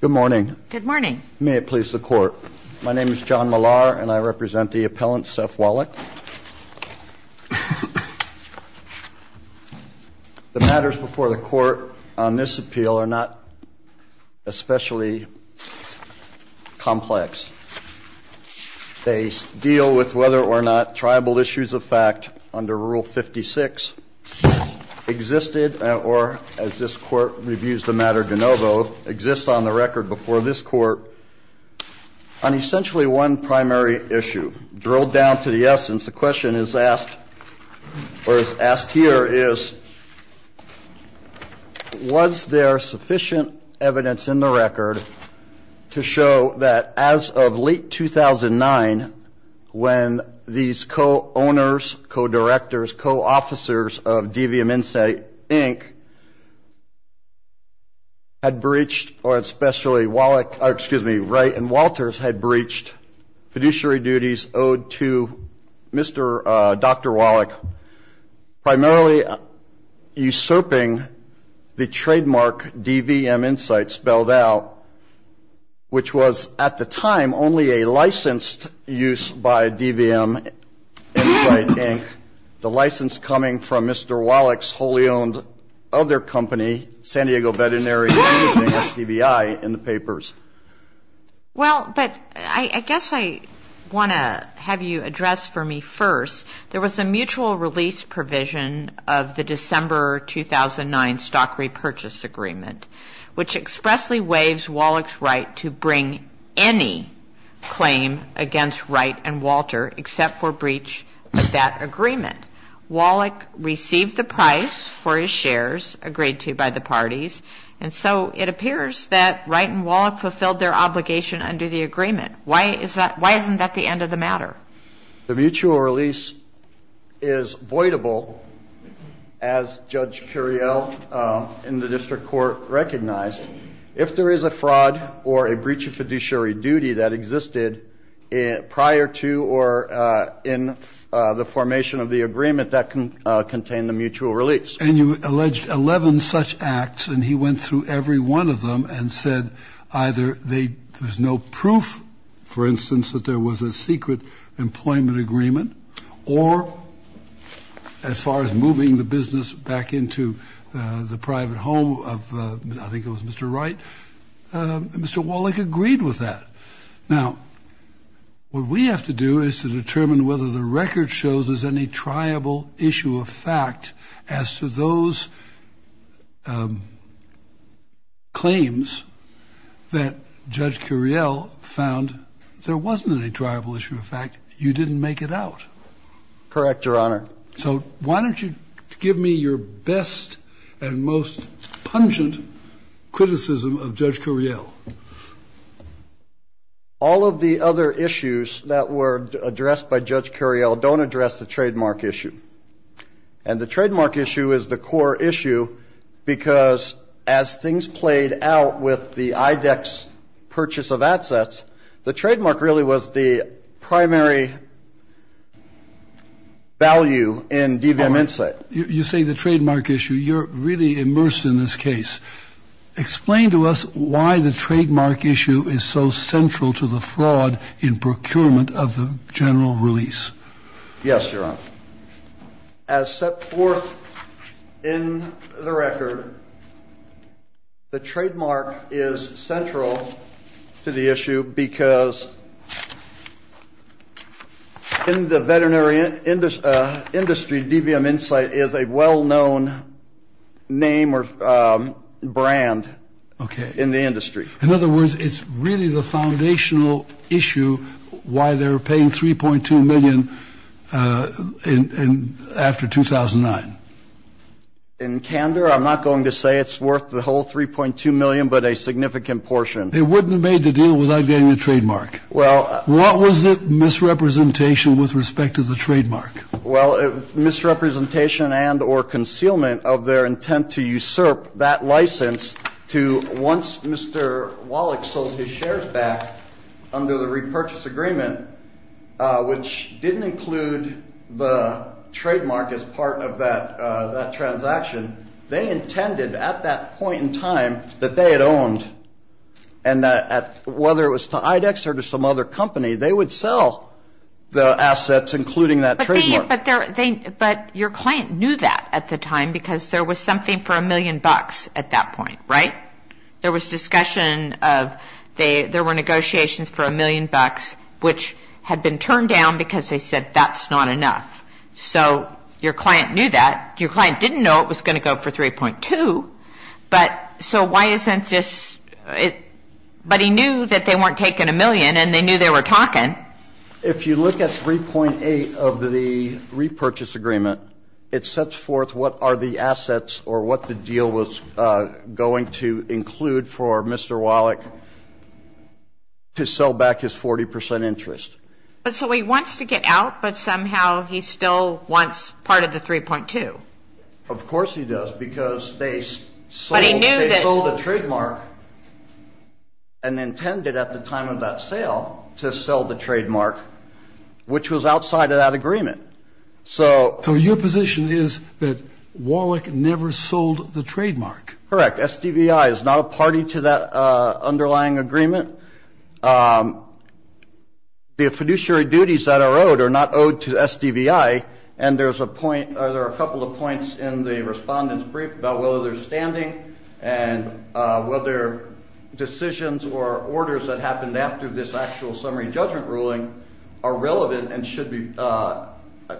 Good morning. May it please the Court. My name is John Millar and I represent the appellant, Seth Wallack. The matters before the Court on this appeal are not especially complex. They deal with whether or not tribal issues of fact under Rule 56 existed or, as this Court reviews the matter de novo, exist on the record before this Court on essentially one primary issue. Drilled down to the essence, the question is asked or is asked here is, was there sufficient evidence in the record to show that as of late 2009, when these co-owners, co-directors, co-officers of DVM Insight, Inc. had breached or especially Wallack, excuse me, Wright and Walters had breached fiduciary duties owed to Mr. Dr. Wallack, primarily usurping the trademark DVM Insight spelled out, which was at the time only a licensed use by DVM Insight, Inc., the license coming from Mr. Wallack's wholly owned other company, San Diego Veterinary Managing, SDVI, in the papers. Well, but I guess I want to have you address for me first, there was a mutual release provision of the December 2009 stock repurchase agreement, which expressly waives Wallack's right to bring any claim against Wright and Walter except for breach of that agreement. Wallack received the price for his shares agreed to by the parties. And so it appears that Wright and Wallack fulfilled their obligation under the agreement. Why isn't that the end of the matter? The mutual release is voidable, as Judge Curiel in the district court recognized, if there is a fraud or a breach of fiduciary duty that existed prior to or in the formation of the agreement that contained the mutual release. And you alleged 11 such acts. And he went through every one of them and said either there's no proof, for instance, that there was a secret employment agreement, or as far as moving the business back into the private home of, I think it was Mr. Wright, Mr. Wallack agreed with that. Now, what we have to do is to determine whether the record shows there's any triable issue of fact as to those claims that Judge Curiel found there wasn't any triable issue of fact. You didn't make it out. Correct, Your Honor. So why don't you give me your best and most pungent criticism of Judge Curiel? All of the other issues that were addressed by Judge Curiel don't address the trademark issue. And the trademark issue is the core issue because as things played out with the IDEX purchase of assets, the trademark really was the primary value in DVM Insight. You say the trademark issue. You're really immersed in this case. Explain to us why the trademark issue is so central to the fraud in procurement of the general release. Yes, Your Honor. As set forth in the record, the trademark is central to the issue because in the veterinary industry, DVM Insight is a well-known name or brand in the industry. In other words, it's really the foundational issue why they're paying $3.2 million after 2009. In candor, I'm not going to say it's worth the whole $3.2 million, but a significant portion. They wouldn't have made the deal without getting the trademark. Well What was the misrepresentation with respect to the trademark? Well, misrepresentation and or concealment of their intent to usurp that license to once Mr. Wallach sold his shares back under the repurchase agreement, which didn't include the trademark as part of that transaction, they intended at that point in time that they had owned and whether it was to IDEX or to some other company, they would sell the assets, including that trademark. But your client knew that at the time because there was something for a million bucks at that point, right? There was discussion of there were negotiations for a million bucks, which had been turned down because they said that's not enough. So your client knew that. Your client didn't know it was going to go for $3.2. But so why isn't this it? But he knew that they weren't taking a million and they knew they were talking. If you look at 3.8 of the repurchase agreement, it sets forth what are the assets or what the deal was going to include for Mr. Wallach to sell back his 40 percent interest. But so he wants to get out. But somehow he still wants part of the 3.2. Of course he does, because they sold a trademark and intended at the time of that sale to sell the trademark, which was outside of that agreement. So your position is that Wallach never sold the trademark. Correct. SDVI is not a party to that underlying agreement. The fiduciary duties that are owed are not owed to SDVI, and there's a point or there are a couple of points in the respondent's brief about whether they're standing and whether decisions or orders that happened after this actual summary judgment ruling are relevant and should be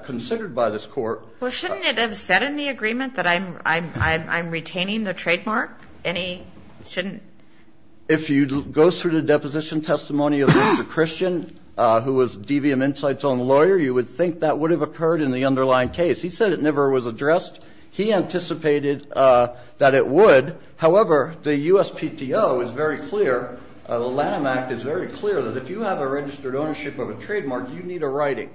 considered by this court. Well, shouldn't it have said in the agreement that I'm retaining the trademark? If you go through the deposition testimony of Mr. Christian, who was DVM Insights' own lawyer, you would think that would have occurred in the underlying case. He said it never was addressed. He anticipated that it would. However, the USPTO is very clear, the Lanham Act is very clear, that if you have a registered ownership of a trademark, you need a writing.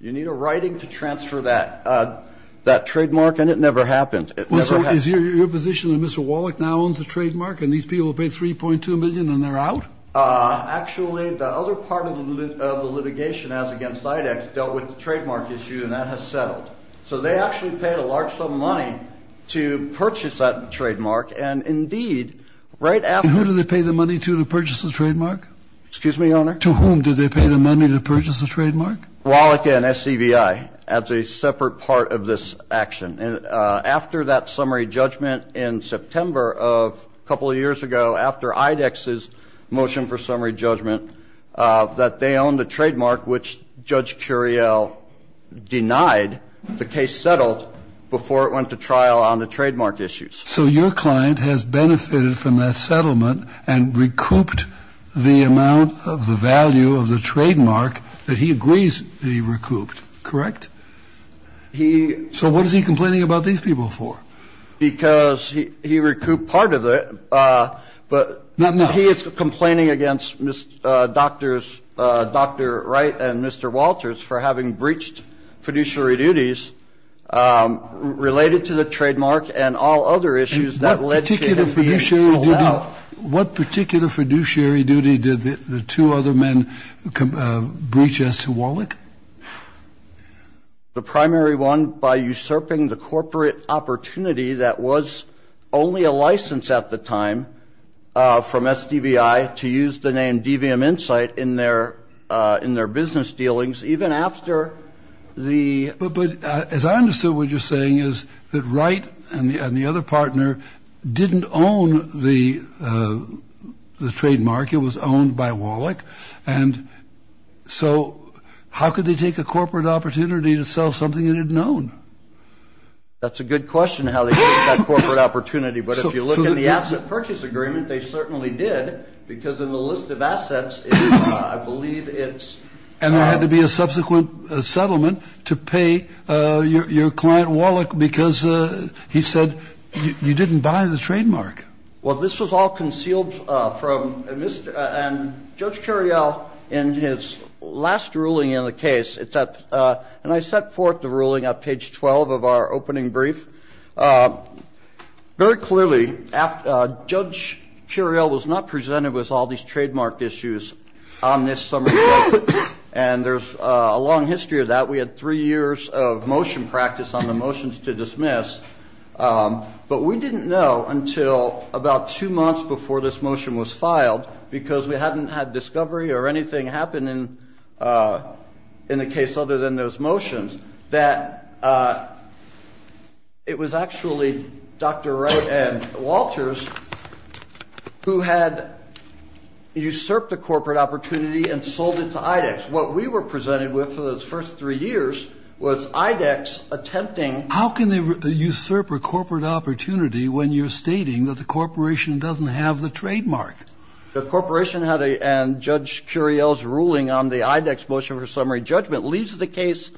You need a writing to transfer that trademark, and it never happened. Well, so is your position that Mr. Wallach now owns the trademark, and these people paid $3.2 million and they're out? Actually, the other part of the litigation, as against IDEX, dealt with the trademark issue, and that has settled. So they actually paid a large sum of money to purchase that trademark, and indeed, right after that. And who did they pay the money to to purchase the trademark? Excuse me, Your Honor? To whom did they pay the money to purchase the trademark? Wallach and SDVI, as a separate part of this action. After that summary judgment in September of a couple of years ago, after IDEX's motion for summary judgment, that they owned the trademark, which Judge Curiel denied the case settled before it went to trial on the trademark issues. So your client has benefited from that settlement and recouped the amount of the value of the trademark that he agrees that he recouped, correct? He ---- So what is he complaining about these people for? Because he recouped part of it, but he is complaining against Dr. Wright and Mr. Walters for having breached fiduciary duties related to the trademark and all other issues that led to it being ruled out. What particular fiduciary duty did the two other men breach as to Wallach? The primary one by usurping the corporate opportunity that was only a license at the time from SDVI to use the name DVM Insight in their business dealings even after the ---- But as I understood what you're saying is that Wright and the other partner didn't own the trademark. It was owned by Wallach. And so how could they take a corporate opportunity to sell something they didn't own? That's a good question, how they took that corporate opportunity. But if you look at the asset purchase agreement, they certainly did, because in the list of assets, I believe it's ---- And there had to be a subsequent settlement to pay your client Wallach because he said you didn't buy the trademark. Well, this was all concealed from Mr. and Judge Curiel in his last ruling in the case. And I set forth the ruling at page 12 of our opening brief. Very clearly, Judge Curiel was not presented with all these trademark issues on this summary. And there's a long history of that. We had three years of motion practice on the motions to dismiss. But we didn't know until about two months before this motion was filed, because we hadn't had discovery or anything happen in the case other than those motions, that it was actually Dr. Wright and Walters who had usurped a corporate opportunity and sold it to IDEX. What we were presented with for those first three years was IDEX attempting ---- How can they usurp a corporate opportunity when you're stating that the corporation doesn't have the trademark? The corporation had a ---- And Judge Curiel's ruling on the IDEX motion for summary judgment leaves the case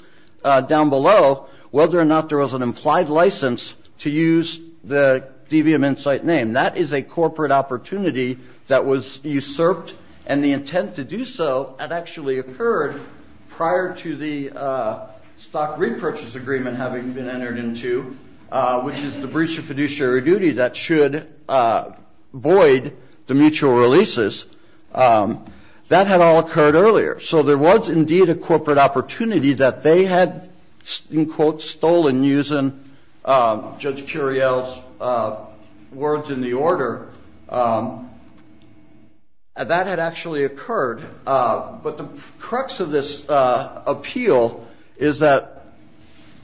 down below whether or not there was an implied license to use the DVM Insight name. That is a corporate opportunity that was usurped, and the intent to do so had actually occurred prior to the stock repurchase agreement having been entered into, which is the breach of fiduciary duty that should void the mutual releases. That had all occurred earlier. So there was indeed a corporate opportunity that they had, in quotes, stolen using Judge Curiel's words in the order. That had actually occurred. But the crux of this appeal is that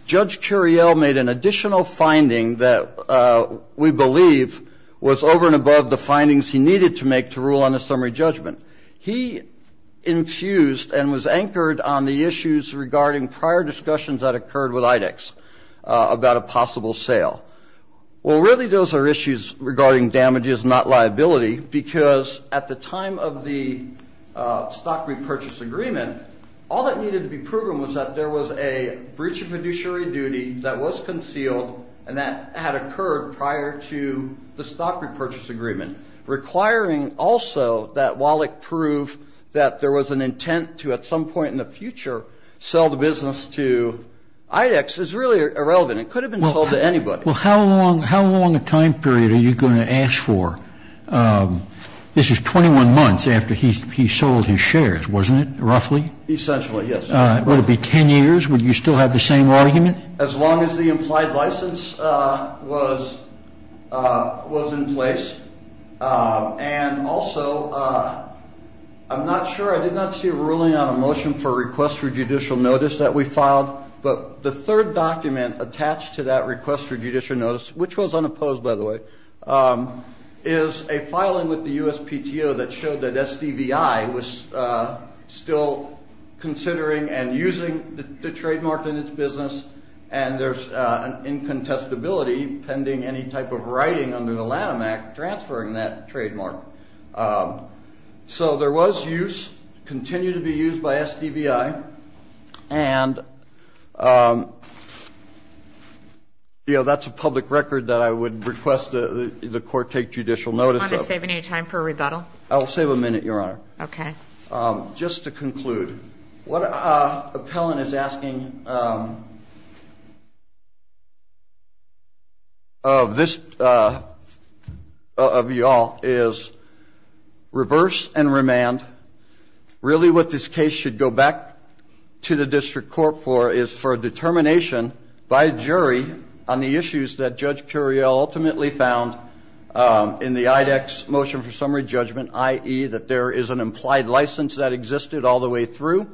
Judge Curiel made an additional finding that we believe was over and above the findings he needed to make the rule on the summary judgment. He infused and was anchored on the issues regarding prior discussions that occurred with IDEX about a possible sale. Well, really those are issues regarding damages, not liability, because at the time of the stock repurchase agreement, all that needed to be proven was that there was a breach of fiduciary duty that was concealed and that had occurred prior to the stock repurchase agreement, requiring also that Wallach prove that there was an intent to, at some point in the future, sell the business to IDEX is really irrelevant. It could have been sold to anybody. Well, how long a time period are you going to ask for? This is 21 months after he sold his shares, wasn't it, roughly? Essentially, yes. Would it be 10 years? Would you still have the same argument? As long as the implied license was in place. And also, I'm not sure, I did not see a ruling on a motion for a request for judicial notice that we filed, but the third document attached to that request for judicial notice, which was unopposed, by the way, is a filing with the USPTO that showed that SDVI was still considering and using the trademark in its business, and there's an incontestability pending any type of writing under the Lanham Act transferring that trademark. So there was use, continued to be used by SDVI, and, you know, that's a public record that I would request the court take judicial notice of. Do you want to save any time for a rebuttal? I will save a minute, Your Honor. Okay. Just to conclude, what Appellant is asking of this, of you all, is reverse and remand. Really what this case should go back to the district court for is for a determination by a jury on the issues that Judge Curiel ultimately found in the IDEX motion for summary judgment, i.e., that there is an implied license that existed all the way through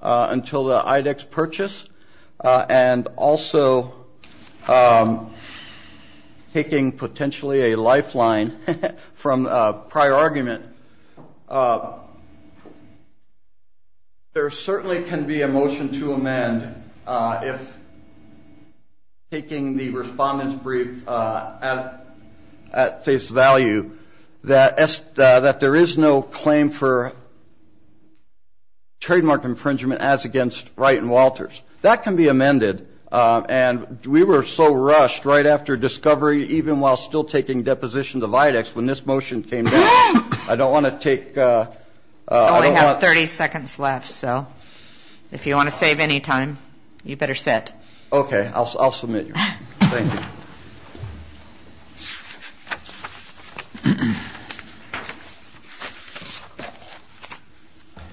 until the IDEX purchase, and also taking potentially a lifeline from a prior argument. There certainly can be a motion to amend if, taking the respondent's brief at face value, that there is no claim for trademark infringement as against Wright and Walters. That can be amended, and we were so rushed right after discovery, even while still taking depositions of IDEX, when this motion came down. I don't want to take all the time. We only have 30 seconds left, so if you want to save any time, you better sit. Okay. I'll submit you. Thank you.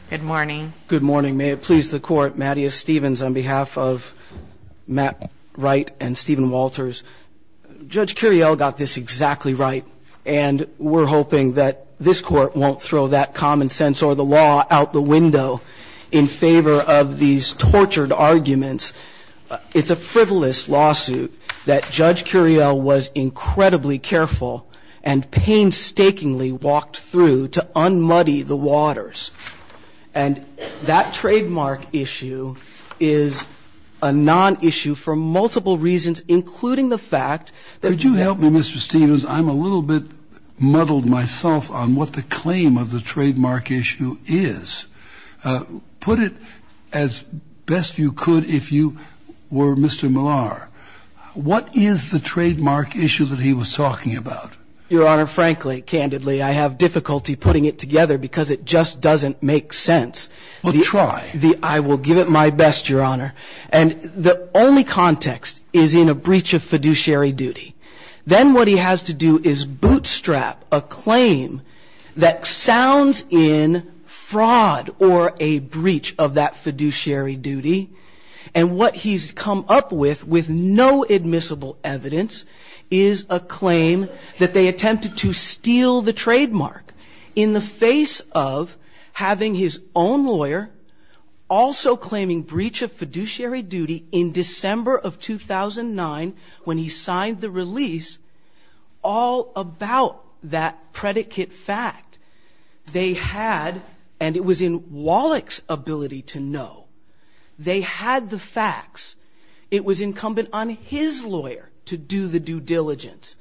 Good morning. Good morning. May it please the Court, Mattias Stevens on behalf of Matt Wright and Stephen Walters. Judge Curiel got this exactly right, and we're hoping that this Court won't throw that common sense or the law out the window in favor of these tortured arguments. It's a frivolous lawsuit that Judge Curiel was incredibly careful and painstakingly walked through to un-muddy the waters. And that trademark issue is a non-issue for multiple reasons, including the fact that you have been ---- Could you help me, Mr. Stevens? I'm a little bit muddled myself on what the claim of the trademark issue is. Put it as best you could if you were Mr. Millar. What is the trademark issue that he was talking about? Your Honor, frankly, candidly, I have difficulty putting it together because it just doesn't make sense. Well, try. I will give it my best, Your Honor. And the only context is in a breach of fiduciary duty. Then what he has to do is bootstrap a claim that sounds in fraud or a breach of that fiduciary duty. And what he's come up with with no admissible evidence is a claim that they attempted to steal the trademark in the face of having his own lawyer also claiming breach of fiduciary duty in December of 2009 when he signed the release all about that predicate fact. They had, and it was in Wallach's ability to know, they had the facts. It was incumbent on his lawyer to do the due diligence.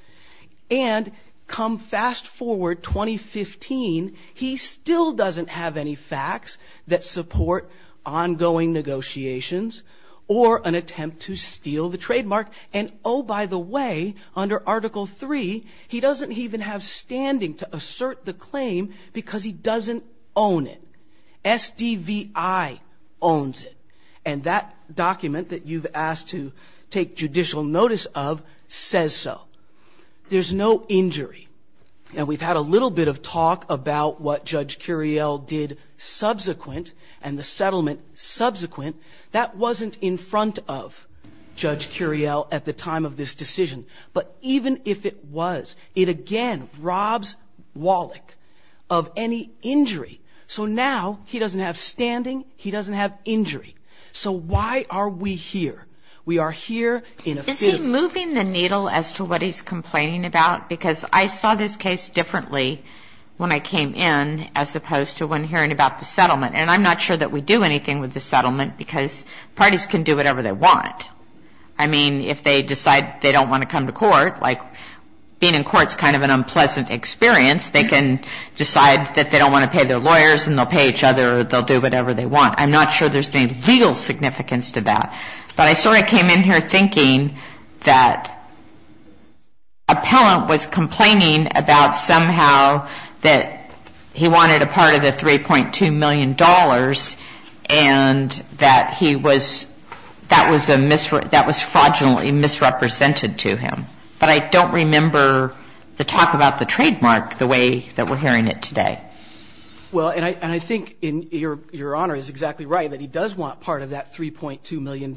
And come fast forward, 2015, he still doesn't have any facts that support ongoing negotiations or an attempt to steal the trademark. And, oh, by the way, under Article III, he doesn't even have standing to assert the claim because he doesn't own it. SDVI owns it. And that document that you've asked to take judicial notice of says so. There's no injury. And we've had a little bit of talk about what Judge Curiel did subsequent and the settlement subsequent. That wasn't in front of Judge Curiel at the time of this decision. But even if it was, it again robs Wallach of any injury. So now he doesn't have standing, he doesn't have injury. So why are we here? We are here in a fit of anger. Is he moving the needle as to what he's complaining about? Because I saw this case differently when I came in as opposed to when hearing about the settlement. And I'm not sure that we do anything with the settlement because parties can do whatever they want. I mean, if they decide they don't want to come to court, like being in court is kind of an unpleasant experience, they can decide that they don't want to pay their lawyers and they'll pay each other or they'll do whatever they want. I'm not sure there's any legal significance to that. But I sort of came in here thinking that Appellant was complaining about somehow that he wanted a part of the $3.2 million and that he was that was a that was fraudulently misrepresented to him. But I don't remember the talk about the trademark the way that we're hearing it today. Well, and I think your Honor is exactly right that he does want part of that $3.2 million.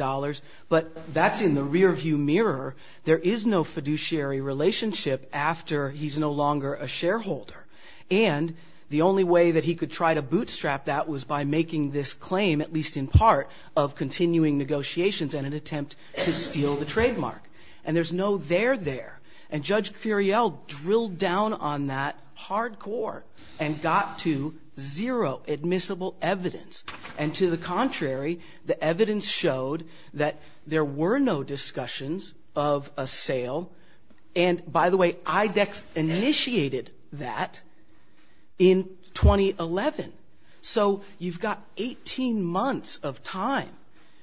But that's in the rearview mirror. There is no fiduciary relationship after he's no longer a shareholder. And the only way that he could try to bootstrap that was by making this claim, at least in part, of continuing negotiations and an attempt to steal the trademark. And there's no there there. And Judge Curiel drilled down on that hardcore and got to zero admissible evidence. And to the contrary, the evidence showed that there were no discussions of a sale. And, by the way, IDEX initiated that in 2011. So you've got 18 months of time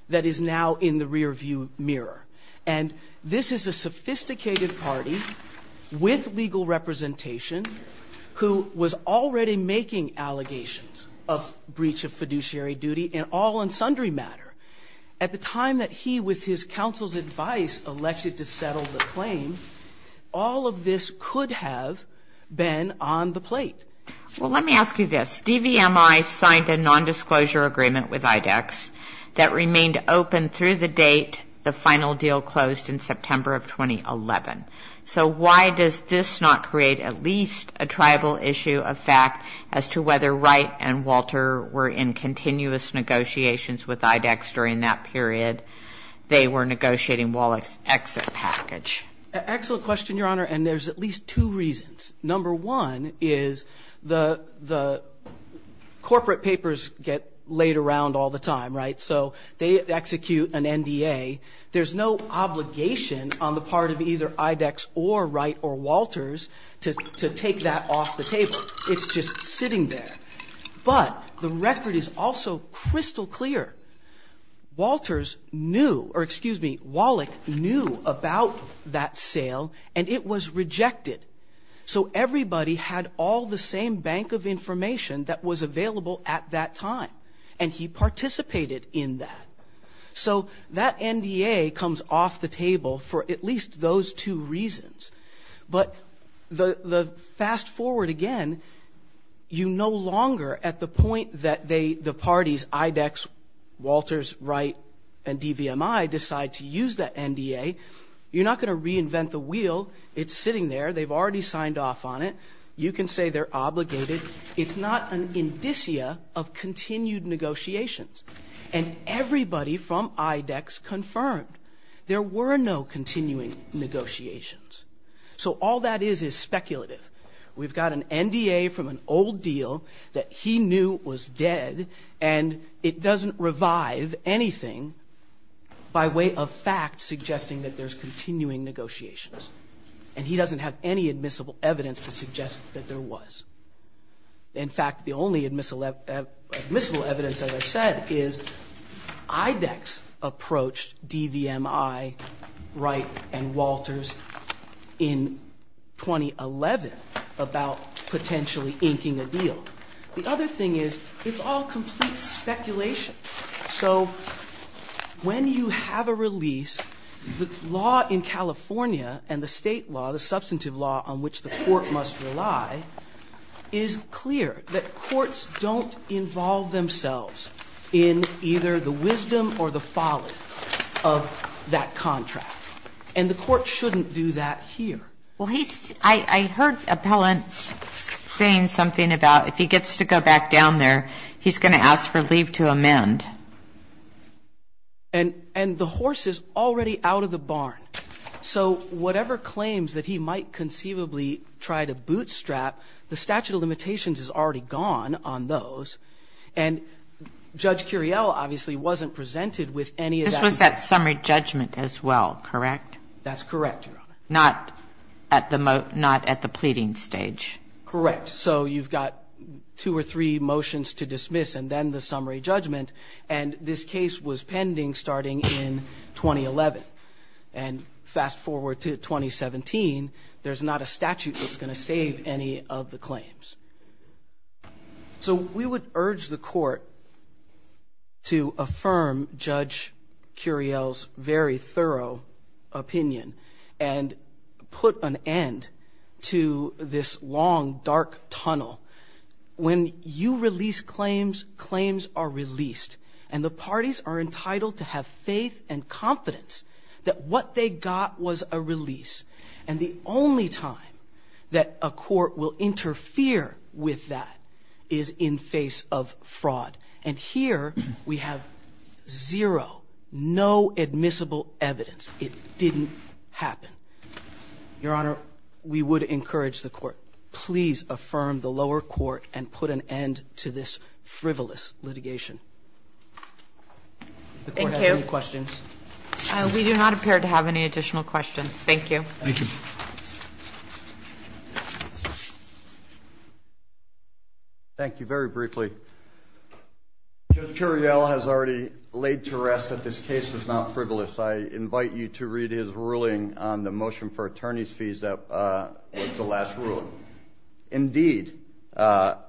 that is now in the rearview mirror. And this is a sophisticated party with legal representation who was already making allegations of breach of fiduciary duty in all and sundry matter. At the time that he, with his counsel's advice, elected to settle the claim, all of this could have been on the plate. Well, let me ask you this. DVMI signed a nondisclosure agreement with IDEX that remained open through the date the final deal closed in September of 2011. So why does this not create at least a tribal issue of fact as to whether Wright and Walter were in continuous negotiations with IDEX during that period? They were negotiating Wallach's exit package. Excellent question, Your Honor, and there's at least two reasons. Number one is the corporate papers get laid around all the time, right? So they execute an NDA. There's no obligation on the part of either IDEX or Wright or Walters to take that off the table. It's just sitting there. But the record is also crystal clear. Walters knew, or excuse me, Wallach knew about that sale, and it was rejected. So everybody had all the same bank of information that was available at that time, and he participated in that. So that NDA comes off the table for at least those two reasons. But the fast forward again, you no longer at the point that the parties, IDEX, Walters, Wright, and DVMI decide to use that NDA, you're not going to reinvent the wheel. It's sitting there. They've already signed off on it. You can say they're obligated. It's not an indicia of continued negotiations. And everybody from IDEX confirmed there were no continuing negotiations. So all that is is speculative. We've got an NDA from an old deal that he knew was dead, and it doesn't revive anything by way of fact suggesting that there's continuing negotiations. And he doesn't have any admissible evidence to suggest that there was. In fact, the only admissible evidence, as I've said, is IDEX approached DVMI, Wright, and Walters in 2011 about potentially inking a deal. The other thing is it's all complete speculation. So when you have a release, the law in California and the State law, the substantive law on which the Court must rely, is clear that courts don't involve themselves in either the wisdom or the folly of that contract. And the Court shouldn't do that here. Well, he's – I heard Appellant saying something about if he gets to go back down there, he's going to ask for leave to amend. And the horse is already out of the barn. So whatever claims that he might conceivably try to bootstrap, the statute of limitations is already gone on those. And Judge Curiel obviously wasn't presented with any of that. This was that summary judgment as well, correct? That's correct, Your Honor. Not at the pleading stage. Correct. So you've got two or three motions to dismiss and then the summary judgment. And this case was pending starting in 2011. And fast forward to 2017, there's not a statute that's going to save any of the claims. So we would urge the Court to affirm Judge Curiel's very thorough opinion and put an end to this long, dark tunnel. When you release claims, claims are released. And the parties are entitled to have faith and confidence that what they got was a release. And the only time that a court will interfere with that is in face of fraud. And here we have zero, no admissible evidence. It didn't happen. Your Honor, we would encourage the Court, please affirm the lower court and put an end to this frivolous litigation. Thank you. Does the Court have any questions? We do not appear to have any additional questions. Thank you. Thank you. Thank you very briefly. Judge Curiel has already laid to rest that this case was not frivolous. I invite you to read his ruling on the motion for attorney's fees that was the last ruling. Indeed. Judge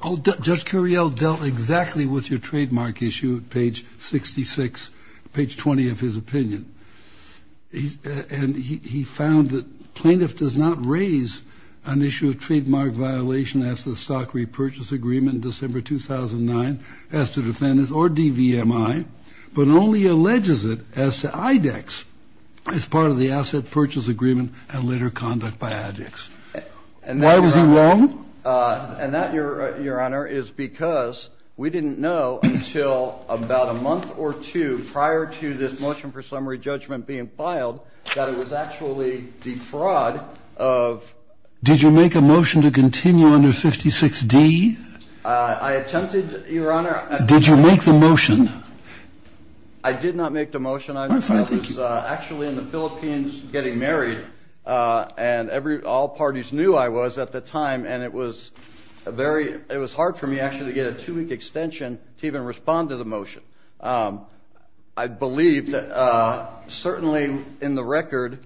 Curiel dealt exactly with your trademark issue at page 66, page 20 of his opinion. And he found that plaintiff does not raise an issue of trademark violation as to the stock repurchase agreement in December 2009 as to defendants or DVMI, but only alleges it as to IDEX as part of the asset purchase agreement and later conduct by ADEX. Why was he wrong? And that, Your Honor, is because we didn't know until about a month or two prior to this motion for summary judgment being filed that it was actually defraud of ---- Did you make a motion to continue under 56D? I attempted, Your Honor. Did you make the motion? I did not make the motion. I was actually in the Philippines getting married, and all parties knew I was at the time, and it was hard for me actually to get a two-week extension to even respond to the motion. I believe that certainly in the record,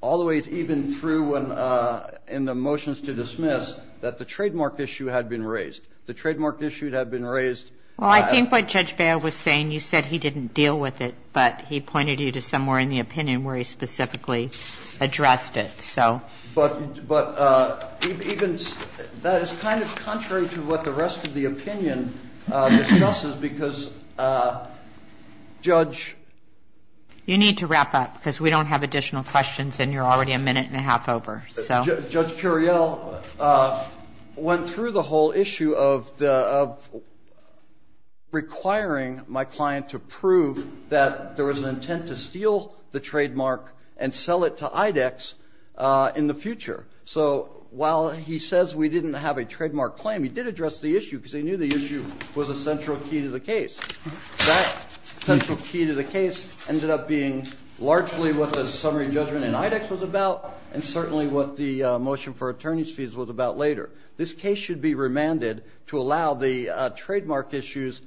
all the way even through in the motions to dismiss, that the trademark issue had been raised. The trademark issue had been raised. Well, I think what Judge Bail was saying, you said he didn't deal with it, but he pointed you to somewhere in the opinion where he specifically addressed it. But even ---- that is kind of contrary to what the rest of the opinion discusses because Judge ---- You need to wrap up because we don't have additional questions, and you're already a minute and a half over. Judge Curiel went through the whole issue of requiring my client to prove that there was an intent to steal the trademark and sell it to IDEX in the future. So while he says we didn't have a trademark claim, he did address the issue because he knew the issue was a central key to the case. That central key to the case ended up being largely what the summary judgment in IDEX was about and certainly what the motion for attorney's fees was about later. This case should be remanded to allow the trademark issues,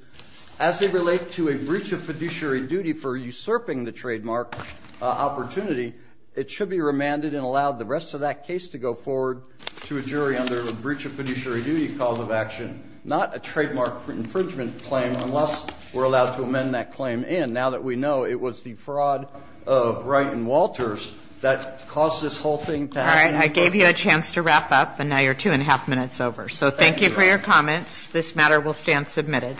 as they relate to a breach of fiduciary duty for usurping the trademark opportunity, it should be remanded and allowed the rest of that case to go forward to a jury under a breach of fiduciary duty cause of action, not a trademark infringement claim unless we're allowed to amend that claim in. And now that we know it was the fraud of Wright and Walters that caused this whole thing to happen. All right, I gave you a chance to wrap up, and now you're two and a half minutes over. So thank you for your comments. This matter will stand submitted.